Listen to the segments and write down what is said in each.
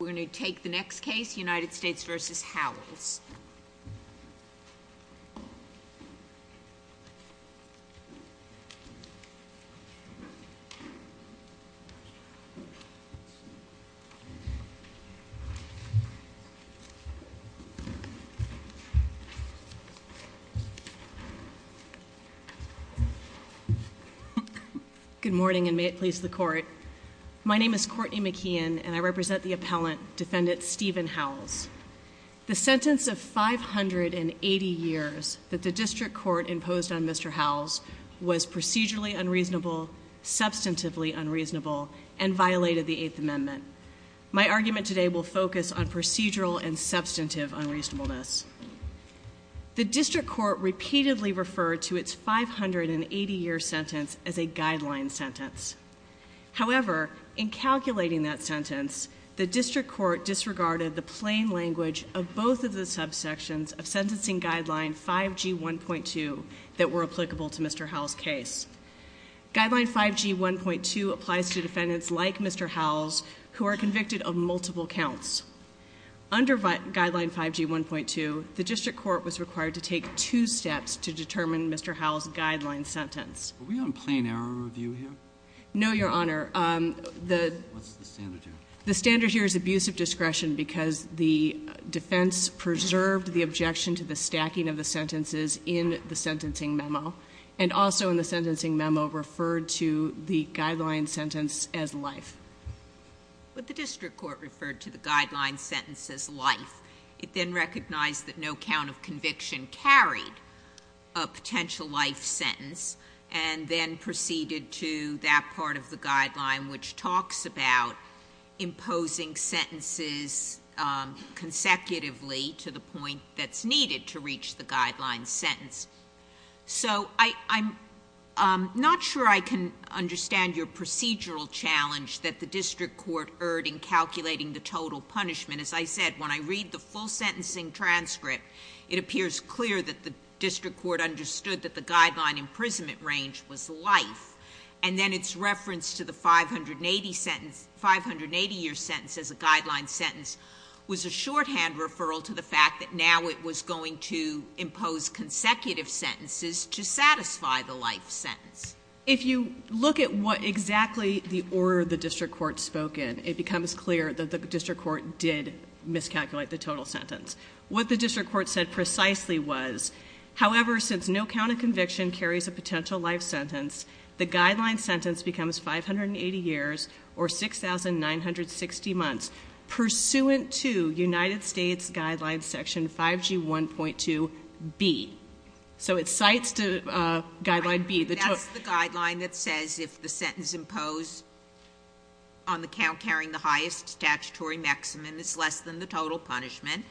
We're going to take the next case, United States v. Howells. Good morning and may it please the Court. My name is Courtney McKeon and I represent the appellant, Defendant Stephen Howells. The sentence of 580 years that the District Court imposed on Mr. Howells was procedurally unreasonable, substantively unreasonable, and violated the Eighth Amendment. My argument today will focus on procedural and substantive unreasonableness. The District Court repeatedly referred to its 580-year sentence as a guideline sentence. However, in calculating that sentence, the District Court disregarded the plain language of both of the subsections of Sentencing Guideline 5G1.2 that were applicable to Mr. Howells' case. Guideline 5G1.2 applies to defendants like Mr. Howells who are convicted of multiple counts. Under Guideline 5G1.2, the District Court was required to take two steps to determine Mr. Howells' guideline sentence. Are we on plain error review here? No, Your Honor. What's the standard here? The standard here is abusive discretion because the defense preserved the objection to the stacking of the sentences in the sentencing memo, and also in the sentencing memo referred to the guideline sentence as life. But the District Court referred to the guideline sentence as life. It then recognized that no count of conviction carried a potential life sentence and then proceeded to that part of the guideline which talks about imposing sentences consecutively to the point that's needed to reach the guideline sentence. So I'm not sure I can understand your procedural challenge that the District Court erred in calculating the total punishment. As I said, when I read the full sentencing transcript, it appears clear that the District Court understood that the guideline imprisonment range was life, and then its reference to the 580-year sentence as a guideline sentence was a shorthand referral to the fact that now it was going to impose consecutive sentences to satisfy the life sentence. If you look at what exactly the order the District Court spoke in, it becomes clear that the District Court did miscalculate the total sentence. What the District Court said precisely was, however, since no count of conviction carries a potential life sentence, the guideline sentence becomes 580 years or 6,960 months pursuant to United States Guidelines Section 5G1.2B. So it cites Guideline B. That's the guideline that says if the sentence imposed on the count carrying the highest statutory maximum is less than the total punishment,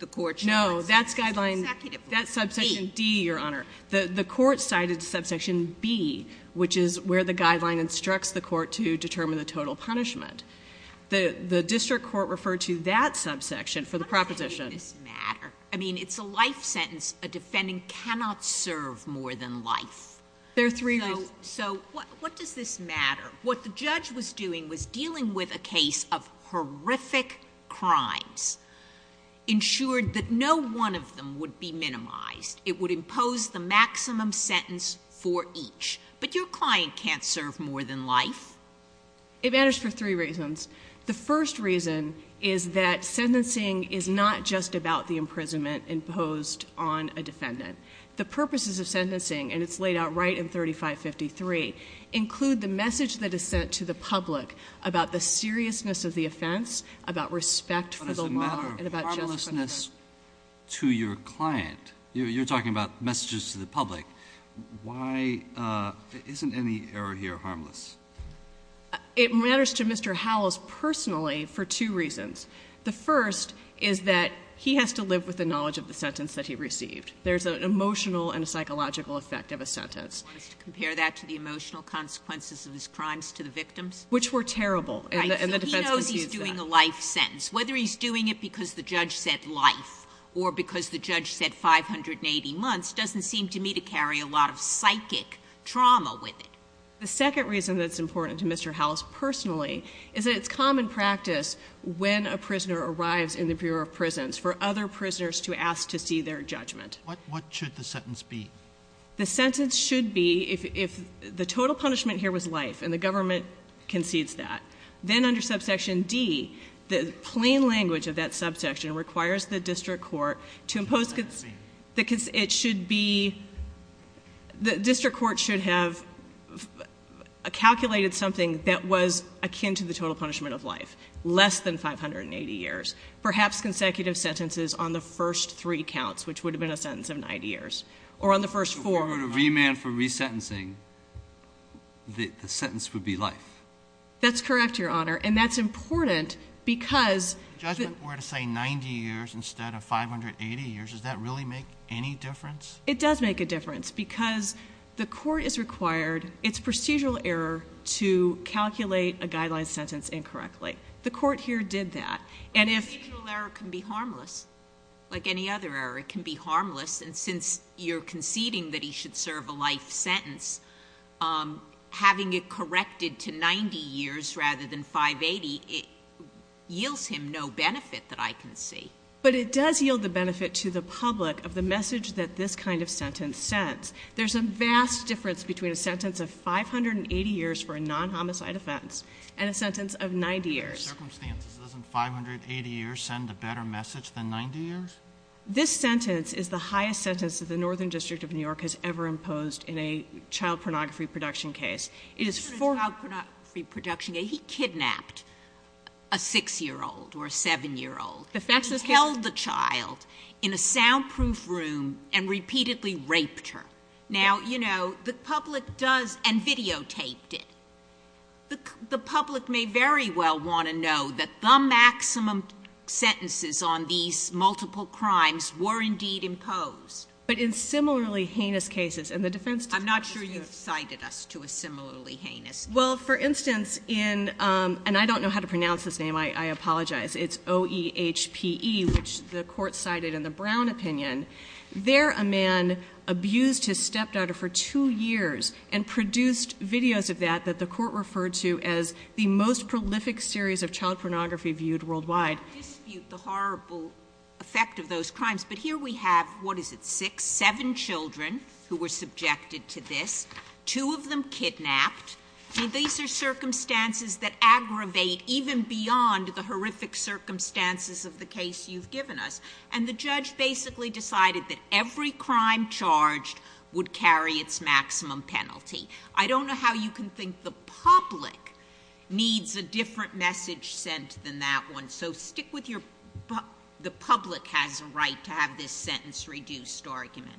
the court should not sentence consecutively. No, that's Guideline D, Your Honor. The court cited Subsection B, which is where the guideline instructs the court to determine the total punishment. The District Court referred to that subsection for the proposition. How does any of this matter? I mean, it's a life sentence. A defendant cannot serve more than life. There are three reasons. So what does this matter? What the judge was doing was dealing with a case of horrific crimes, ensured that no one of them would be minimized. It would impose the maximum sentence for each. But your client can't serve more than life. It matters for three reasons. The first reason is that sentencing is not just about the imprisonment imposed on a defendant. The purposes of sentencing, and it's laid out right in 3553, include the message that is sent to the public about the seriousness of the offense, about respect for the law, and about justice. But it's a matter of harmlessness to your client. You're talking about messages to the public. Why isn't any error here harmless? It matters to Mr. Howells personally for two reasons. The first is that he has to live with the knowledge of the sentence that he received. There's an emotional and a psychological effect of a sentence. Do you want us to compare that to the emotional consequences of his crimes to the victims? Which were terrible. Right. He knows he's doing a life sentence. Whether he's doing it because the judge said life or because the judge said 580 months doesn't seem to me to carry a lot of psychic trauma with it. The second reason that's important to Mr. Howells personally is that it's common practice when a prisoner arrives in the Bureau of Prisons for other prisoners to ask to see their judgment. What should the sentence be? The sentence should be if the total punishment here was life and the government concedes that, then under subsection D, the plain language of that subsection requires the district court to impose The district court should have calculated something that was akin to the total punishment of life. Less than 580 years. Perhaps consecutive sentences on the first three counts, which would have been a sentence of 90 years. Or on the first four. If we were to remand for resentencing, the sentence would be life. That's correct, Your Honor. And that's important because If the judgment were to say 90 years instead of 580 years, does that really make any difference? It does make a difference because the court is required, it's procedural error, to calculate a guideline sentence incorrectly. The court here did that. Procedural error can be harmless. Like any other error, it can be harmless. And since you're conceding that he should serve a life sentence, having it corrected to 90 years rather than 580, it yields him no benefit that I can see. But it does yield the benefit to the public of the message that this kind of sentence sends. There's a vast difference between a sentence of 580 years for a non-homicide offense and a sentence of 90 years. Under the circumstances, doesn't 580 years send a better message than 90 years? This sentence is the highest sentence that the Northern District of New York has ever imposed in a child pornography production case. In a child pornography production case, he kidnapped a 6-year-old or a 7-year-old. He held the child in a soundproof room and repeatedly raped her. Now, you know, the public does, and videotaped it. The public may very well want to know that the maximum sentences on these multiple crimes were indeed imposed. But in similarly heinous cases, and the defense... I'm not sure you've cited us to a similarly heinous case. Well, for instance, in, and I don't know how to pronounce his name, I apologize. It's O-E-H-P-E, which the court cited in the Brown opinion. There, a man abused his stepdaughter for two years and produced videos of that that the court referred to as the most prolific series of child pornography viewed worldwide. I dispute the horrible effect of those crimes, but here we have, what is it, six, seven children who were subjected to this. Two of them kidnapped. These are circumstances that aggravate even beyond the horrific circumstances of the case you've given us. And the judge basically decided that every crime charged would carry its maximum penalty. I don't know how you can think the public needs a different message sent than that one. So stick with your, the public has a right to have this sentence reduced argument.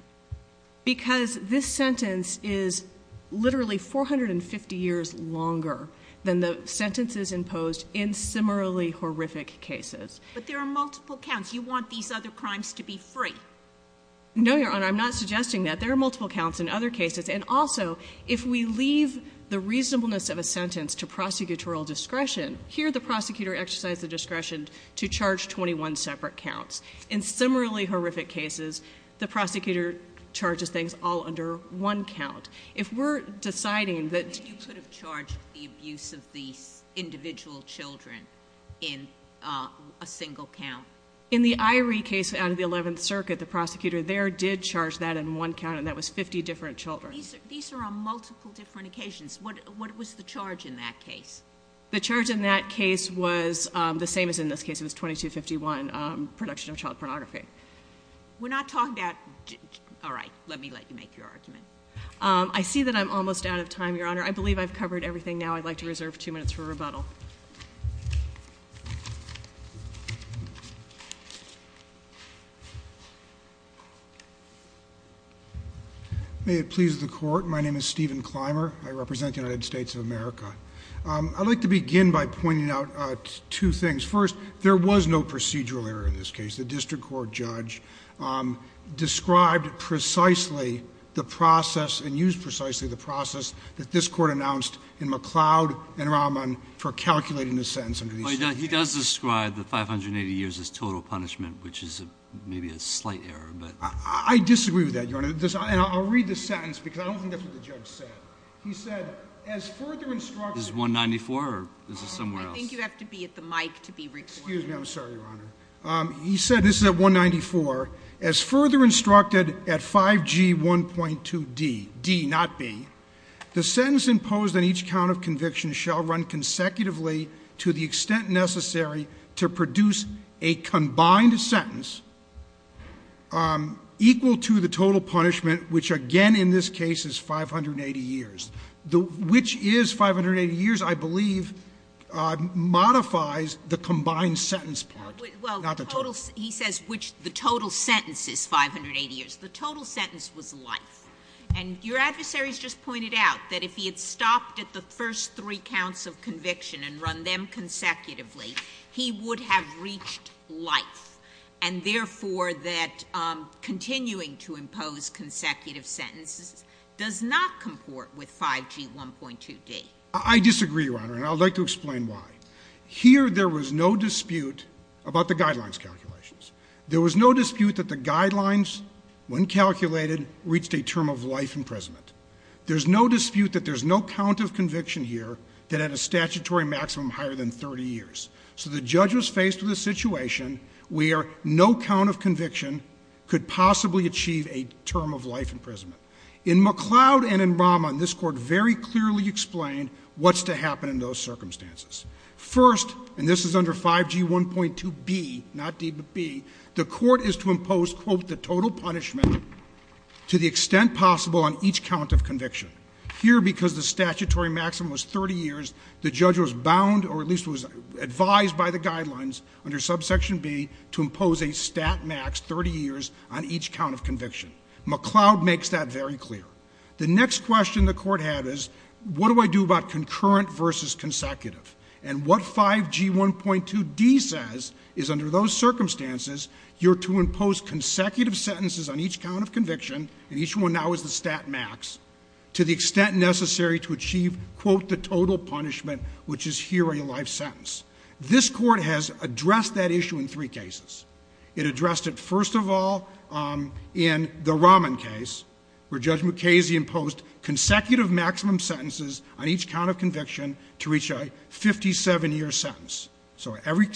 Because this sentence is literally 450 years longer than the sentences imposed in similarly horrific cases. But there are multiple counts. You want these other crimes to be free. No, Your Honor, I'm not suggesting that. There are multiple counts in other cases. And also, if we leave the reasonableness of a sentence to prosecutorial discretion, here the prosecutor exercised the discretion to charge 21 separate counts. In similarly horrific cases, the prosecutor charges things all under one count. If we're deciding that- You could have charged the abuse of these individual children in a single count. In the Irie case out of the 11th Circuit, the prosecutor there did charge that in one count, and that was 50 different children. These are on multiple different occasions. What was the charge in that case? The charge in that case was the same as in this case. It was 2251, production of child pornography. We're not talking about, all right, let me let you make your argument. I see that I'm almost out of time, Your Honor. I believe I've covered everything now. I'd like to reserve two minutes for rebuttal. May it please the Court, my name is Stephen Clymer. I represent the United States of America. I'd like to begin by pointing out two things. First, there was no procedural error in this case. The district court judge described precisely the process and used precisely the process that this court announced in McLeod and Rahman for calculating the sentence under these circumstances. He does describe the 580 years as total punishment, which is maybe a slight error, but- I disagree with that, Your Honor. And I'll read the sentence because I don't think that's what the judge said. He said, as further instruction- Is it 194 or is it somewhere else? I think you have to be at the mic to be recording. Excuse me, I'm sorry, Your Honor. He said, this is at 194, as further instructed at 5G1.2D, D, not B, the sentence imposed on each count of conviction shall run consecutively to the extent necessary to produce a combined sentence equal to the total punishment, which again in this case is 580 years, which is 580 years, I believe, modifies the combined sentence part. Well, he says the total sentence is 580 years. The total sentence was life. And your adversaries just pointed out that if he had stopped at the first three counts of conviction and run them consecutively, he would have reached life, and therefore that continuing to impose consecutive sentences does not comport with 5G1.2D. I disagree, Your Honor, and I would like to explain why. Here there was no dispute about the guidelines calculations. There was no dispute that the guidelines, when calculated, reached a term of life imprisonment. There's no dispute that there's no count of conviction here that had a statutory maximum higher than 30 years. So the judge was faced with a situation where no count of conviction could possibly achieve a term of life imprisonment. In McLeod and in Raman, this Court very clearly explained what's to happen in those circumstances. First, and this is under 5G1.2B, not D but B, the Court is to impose, quote, the total punishment to the extent possible on each count of conviction. Here, because the statutory maximum was 30 years, the judge was bound or at least was advised by the guidelines under subsection B to impose a stat max 30 years on each count of conviction. McLeod makes that very clear. The next question the Court had is, what do I do about concurrent versus consecutive? And what 5G1.2D says is, under those circumstances, you're to impose consecutive sentences on each count of conviction, and each one now is the stat max, to the extent necessary to achieve, quote, the total punishment, which is here a life sentence. This Court has addressed that issue in three cases. It addressed it, first of all, in the Raman case, where Judge Mukasey imposed consecutive maximum sentences on each count of conviction to reach a 57-year sentence. So every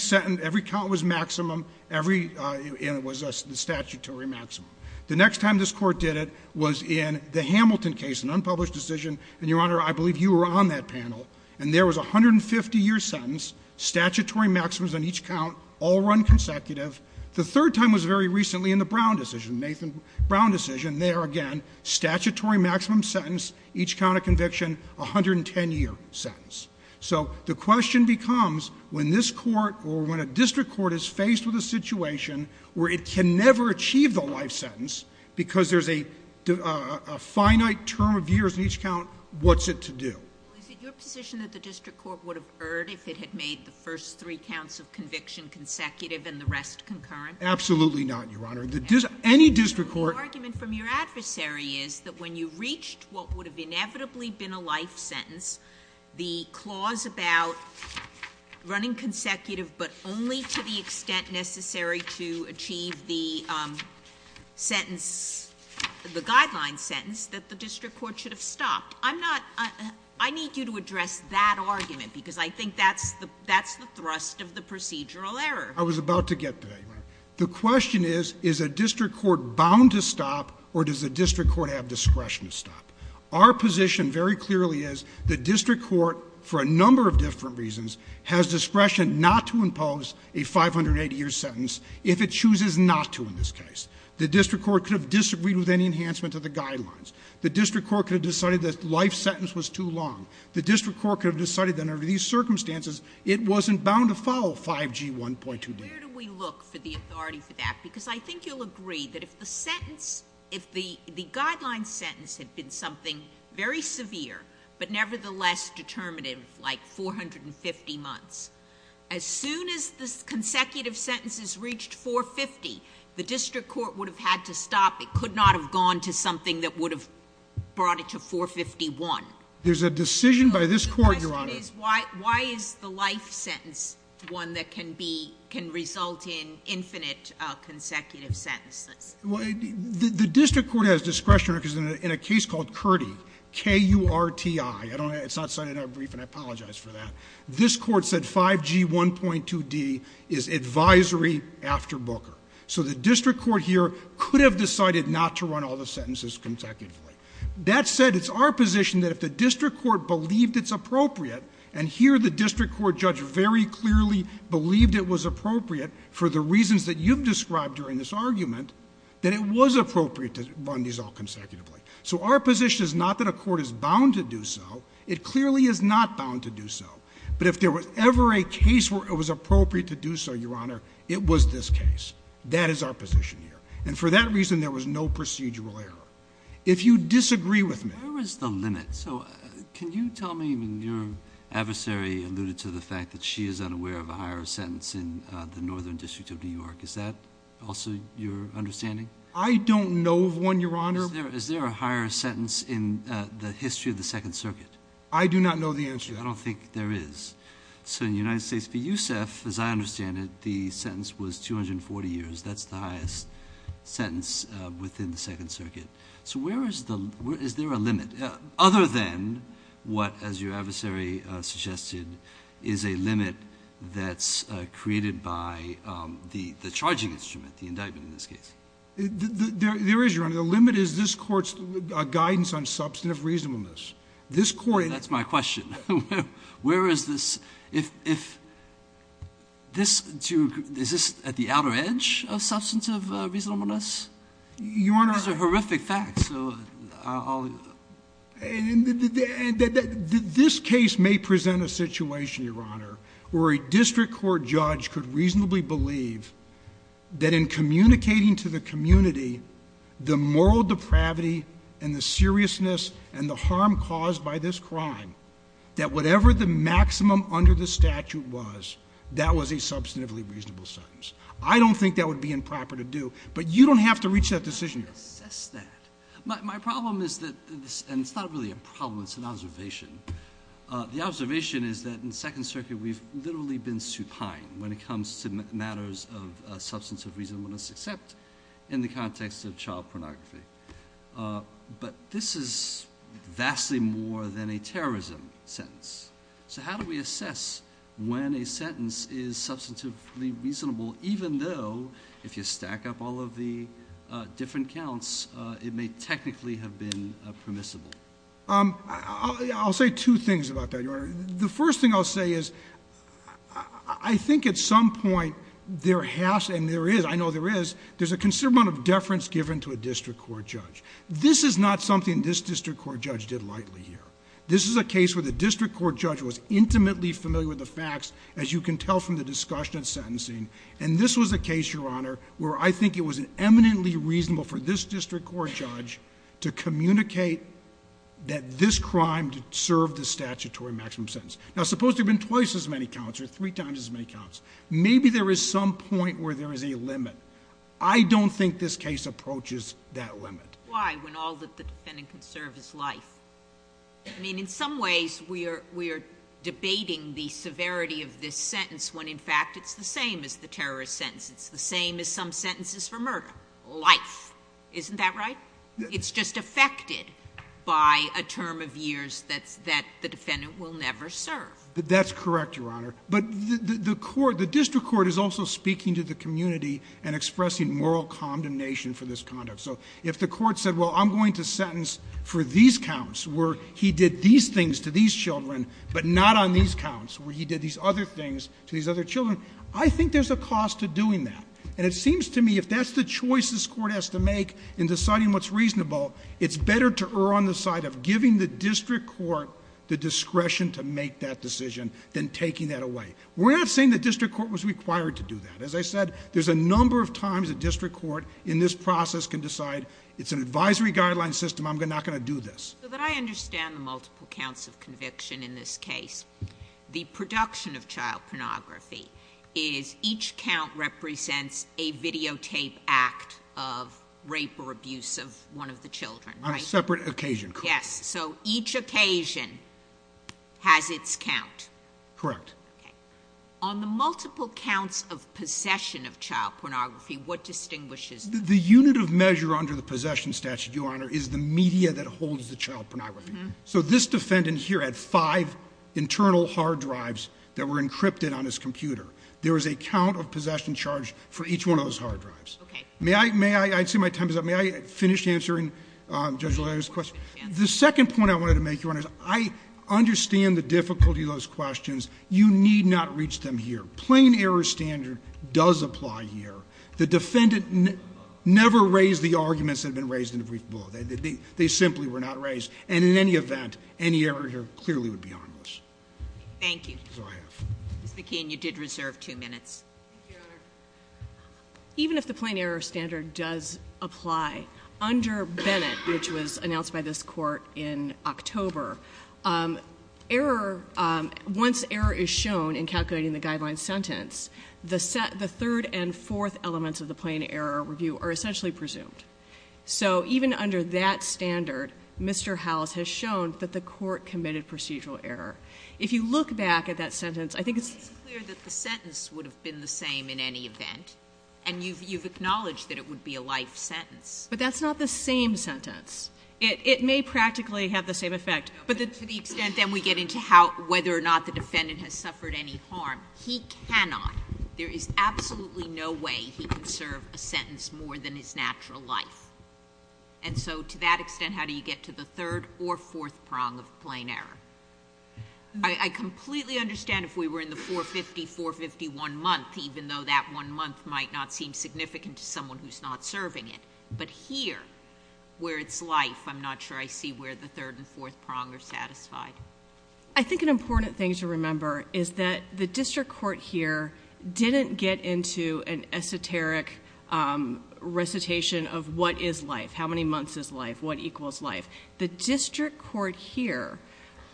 count was maximum, and it was a statutory maximum. The next time this Court did it was in the Hamilton case, an unpublished decision, and, Your Honor, I believe you were on that panel, and there was a 150-year sentence, statutory maximums on each count, all run consecutive. The third time was very recently in the Brown decision, Nathan Brown decision. There again, statutory maximum sentence, each count of conviction, 110-year sentence. So the question becomes, when this Court or when a district court is faced with a situation where it can never achieve the life sentence because there's a finite term of years in each count, what's it to do? Is it your position that the district court would have erred if it had made the first three counts of conviction consecutive and the rest concurrent? Absolutely not, Your Honor. Any district court— The argument from your adversary is that when you reached what would have inevitably been a life sentence, the clause about running consecutive but only to the extent necessary to achieve the sentence, the guideline sentence, that the district court should have stopped. I'm not — I need you to address that argument because I think that's the thrust of the procedural error. I was about to get to that, Your Honor. The question is, is a district court bound to stop or does the district court have discretion to stop? Our position very clearly is the district court, for a number of different reasons, has discretion not to impose a 580-year sentence if it chooses not to in this case. The district court could have disagreed with any enhancement of the guidelines. The district court could have decided that the life sentence was too long. The district court could have decided that under these circumstances, it wasn't bound to follow 5G 1.2d. Where do we look for the authority for that? Because I think you'll agree that if the sentence — if the guideline sentence had been something very severe but nevertheless determinative, like 450 months, as soon as the consecutive sentences reached 450, the district court would have had to stop. It could not have gone to something that would have brought it to 451. There's a decision by this court, Your Honor — The question is, why is the life sentence one that can be — can result in infinite consecutive sentences? Well, the district court has discretion in a case called KURTI, K-U-R-T-I. It's not cited in our brief, and I apologize for that. This Court said 5G 1.2d is advisory after Booker. So the district court here could have decided not to run all the sentences consecutively. That said, it's our position that if the district court believed it's appropriate, and here the district court judge very clearly believed it was appropriate for the reasons that you've described during this argument, that it was appropriate to run these all consecutively. So our position is not that a court is bound to do so. It clearly is not bound to do so. But if there was ever a case where it was appropriate to do so, Your Honor, it was this case. That is our position here. And for that reason, there was no procedural error. If you disagree with me — Where is the limit? So can you tell me when your adversary alluded to the fact that she is unaware of a higher sentence in the Northern District of New York, is that also your understanding? I don't know of one, Your Honor. Is there a higher sentence in the history of the Second Circuit? I do not know the answer to that. I don't think there is. So in the United States, for Yousef, as I understand it, the sentence was 240 years. That's the highest sentence within the Second Circuit. So where is the — is there a limit, other than what, as your adversary suggested, is a limit that's created by the charging instrument, the indictment in this case? There is, Your Honor. The limit is this Court's guidance on substantive reasonableness. That's my question. Where is this — is this at the outer edge of substantive reasonableness? Your Honor — These are horrific facts, so I'll — This case may present a situation, Your Honor, where a district court judge could reasonably believe that in communicating to the community the moral depravity and the seriousness and the harm caused by this crime, that whatever the maximum under the statute was, that was a substantively reasonable sentence. I don't think that would be improper to do, but you don't have to reach that decision, Your Honor. I can assess that. My problem is that — and it's not really a problem, it's an observation. The observation is that in the Second Circuit we've literally been supine when it comes to matters of substantive reasonableness, except in the context of child pornography. But this is vastly more than a terrorism sentence. So how do we assess when a sentence is substantively reasonable, even though if you stack up all of the different counts, it may technically have been permissible? I'll say two things about that, Your Honor. The first thing I'll say is I think at some point there has — and there is, I know there is — there's a considerable amount of deference given to a district court judge. This is not something this district court judge did lightly here. This is a case where the district court judge was intimately familiar with the facts, as you can tell from the discussion and sentencing. And this was a case, Your Honor, where I think it was eminently reasonable for this district court judge to communicate that this crime served the statutory maximum sentence. Now, suppose there have been twice as many counts or three times as many counts. Maybe there is some point where there is a limit. I don't think this case approaches that limit. Why, when all that the defendant can serve is life? I mean, in some ways we are debating the severity of this sentence when, in fact, it's the same as the terrorist sentence. It's the same as some sentences for murder. Life. Isn't that right? It's just affected by a term of years that's — that the defendant will never serve. That's correct, Your Honor. But the court — the district court is also speaking to the community and expressing moral condemnation for this conduct. So if the court said, well, I'm going to sentence for these counts, where he did these things to these children, but not on these counts where he did these other things to these other children, I think there's a cost to doing that. And it seems to me if that's the choice this court has to make in deciding what's reasonable, it's better to err on the side of giving the district court the discretion to make that decision than taking that away. We're not saying the district court was required to do that. As I said, there's a number of times a district court in this process can decide, it's an advisory guideline system, I'm not going to do this. So that I understand the multiple counts of conviction in this case, The production of child pornography is each count represents a videotape act of rape or abuse of one of the children, right? On a separate occasion. Yes. So each occasion has its count. Correct. Okay. On the multiple counts of possession of child pornography, what distinguishes them? The unit of measure under the possession statute, Your Honor, is the media that holds the child pornography. So this defendant here had five internal hard drives that were encrypted on his computer. There was a count of possession charge for each one of those hard drives. Okay. May I finish answering Judge O'Leary's question? The second point I wanted to make, Your Honor, is I understand the difficulty of those questions. You need not reach them here. Plain error standard does apply here. The defendant never raised the arguments that have been raised in the brief below. They simply were not raised. And in any event, any error here clearly would be harmless. Thank you. That's all I have. Ms. McKeon, you did reserve two minutes. Thank you, Your Honor. Even if the plain error standard does apply, under Bennett, which was announced by this court in October, once error is shown in calculating the guideline sentence, the third and fourth elements of the plain error review are essentially presumed. So even under that standard, Mr. Howells has shown that the court committed procedural error. If you look back at that sentence, I think it's clear that the sentence would have been the same in any event, and you've acknowledged that it would be a life sentence. But that's not the same sentence. It may practically have the same effect. But to the extent then we get into whether or not the defendant has suffered any harm, he cannot. There is absolutely no way he can serve a sentence more than his natural life. And so to that extent, how do you get to the third or fourth prong of plain error? I completely understand if we were in the 450, 451 month, even though that one month might not seem significant to someone who's not serving it. But here, where it's life, I'm not sure I see where the third and fourth prong are satisfied. I think an important thing to remember is that the district court here didn't get into an esoteric recitation of what is life? How many months is life? What equals life? The district court here,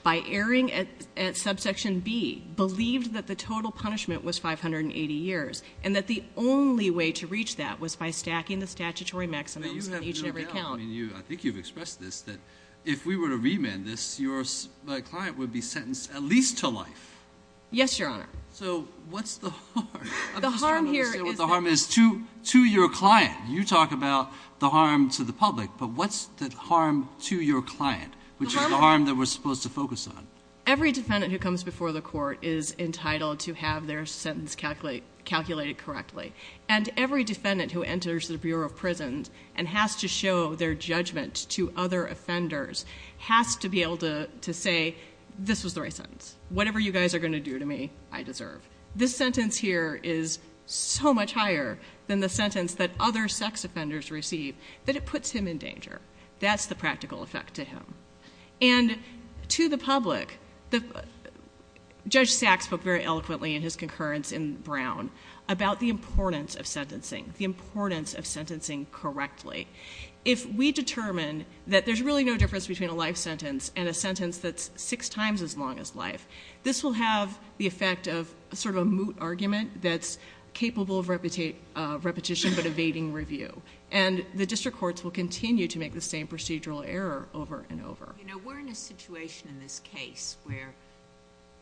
by erring at subsection B, believed that the total punishment was 580 years, and that the only way to reach that was by stacking the statutory maximums on each and every count. I think you've expressed this, that if we were to remand this, your client would be sentenced at least to life. Yes, Your Honor. So what's the harm? I'm just trying to understand what the harm is to your client. You talk about the harm to the public, but what's the harm to your client, which is the harm that we're supposed to focus on? Every defendant who comes before the court is entitled to have their sentence calculated correctly. And every defendant who enters the Bureau of Prisons and has to show their judgment to other offenders has to be able to say, this was the right sentence. Whatever you guys are going to do to me, I deserve. This sentence here is so much higher than the sentence that other sex offenders receive that it puts him in danger. That's the practical effect to him. And to the public, Judge Sachs spoke very eloquently in his concurrence in Brown about the importance of sentencing, the importance of sentencing correctly. If we determine that there's really no difference between a life sentence and a sentence that's six times as long as life, this will have the effect of sort of a moot argument that's capable of repetition but evading review. And the district courts will continue to make the same procedural error over and over. You know, we're in a situation in this case where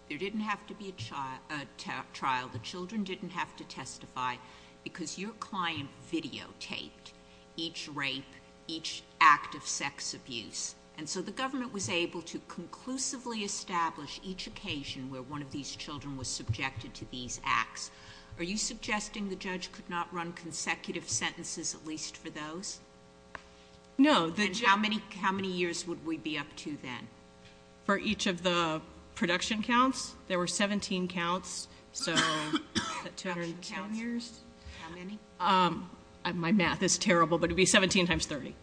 there didn't have to be a trial. The children didn't have to testify because your client videotaped each rape, each act of sex abuse. And so the government was able to conclusively establish each occasion where one of these children was subjected to these acts. Are you suggesting the judge could not run consecutive sentences at least for those? No. And how many years would we be up to then? For each of the production counts, there were 17 counts, so 210 years. How many? My math is terrible, but it would be 17 times 30.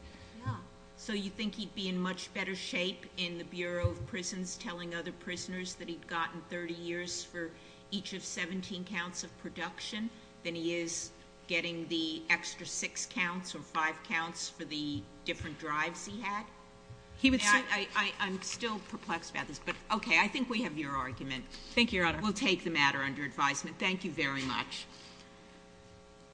Yeah. So you think he'd be in much better shape in the Bureau of Prisons telling other prisoners that he'd gotten 30 years for each of 17 counts of production than he is getting the extra six counts or five counts for the different drives he had? I'm still perplexed about this, but okay, I think we have your argument. Thank you, Your Honor. We'll take the matter under advisement. Thank you very much.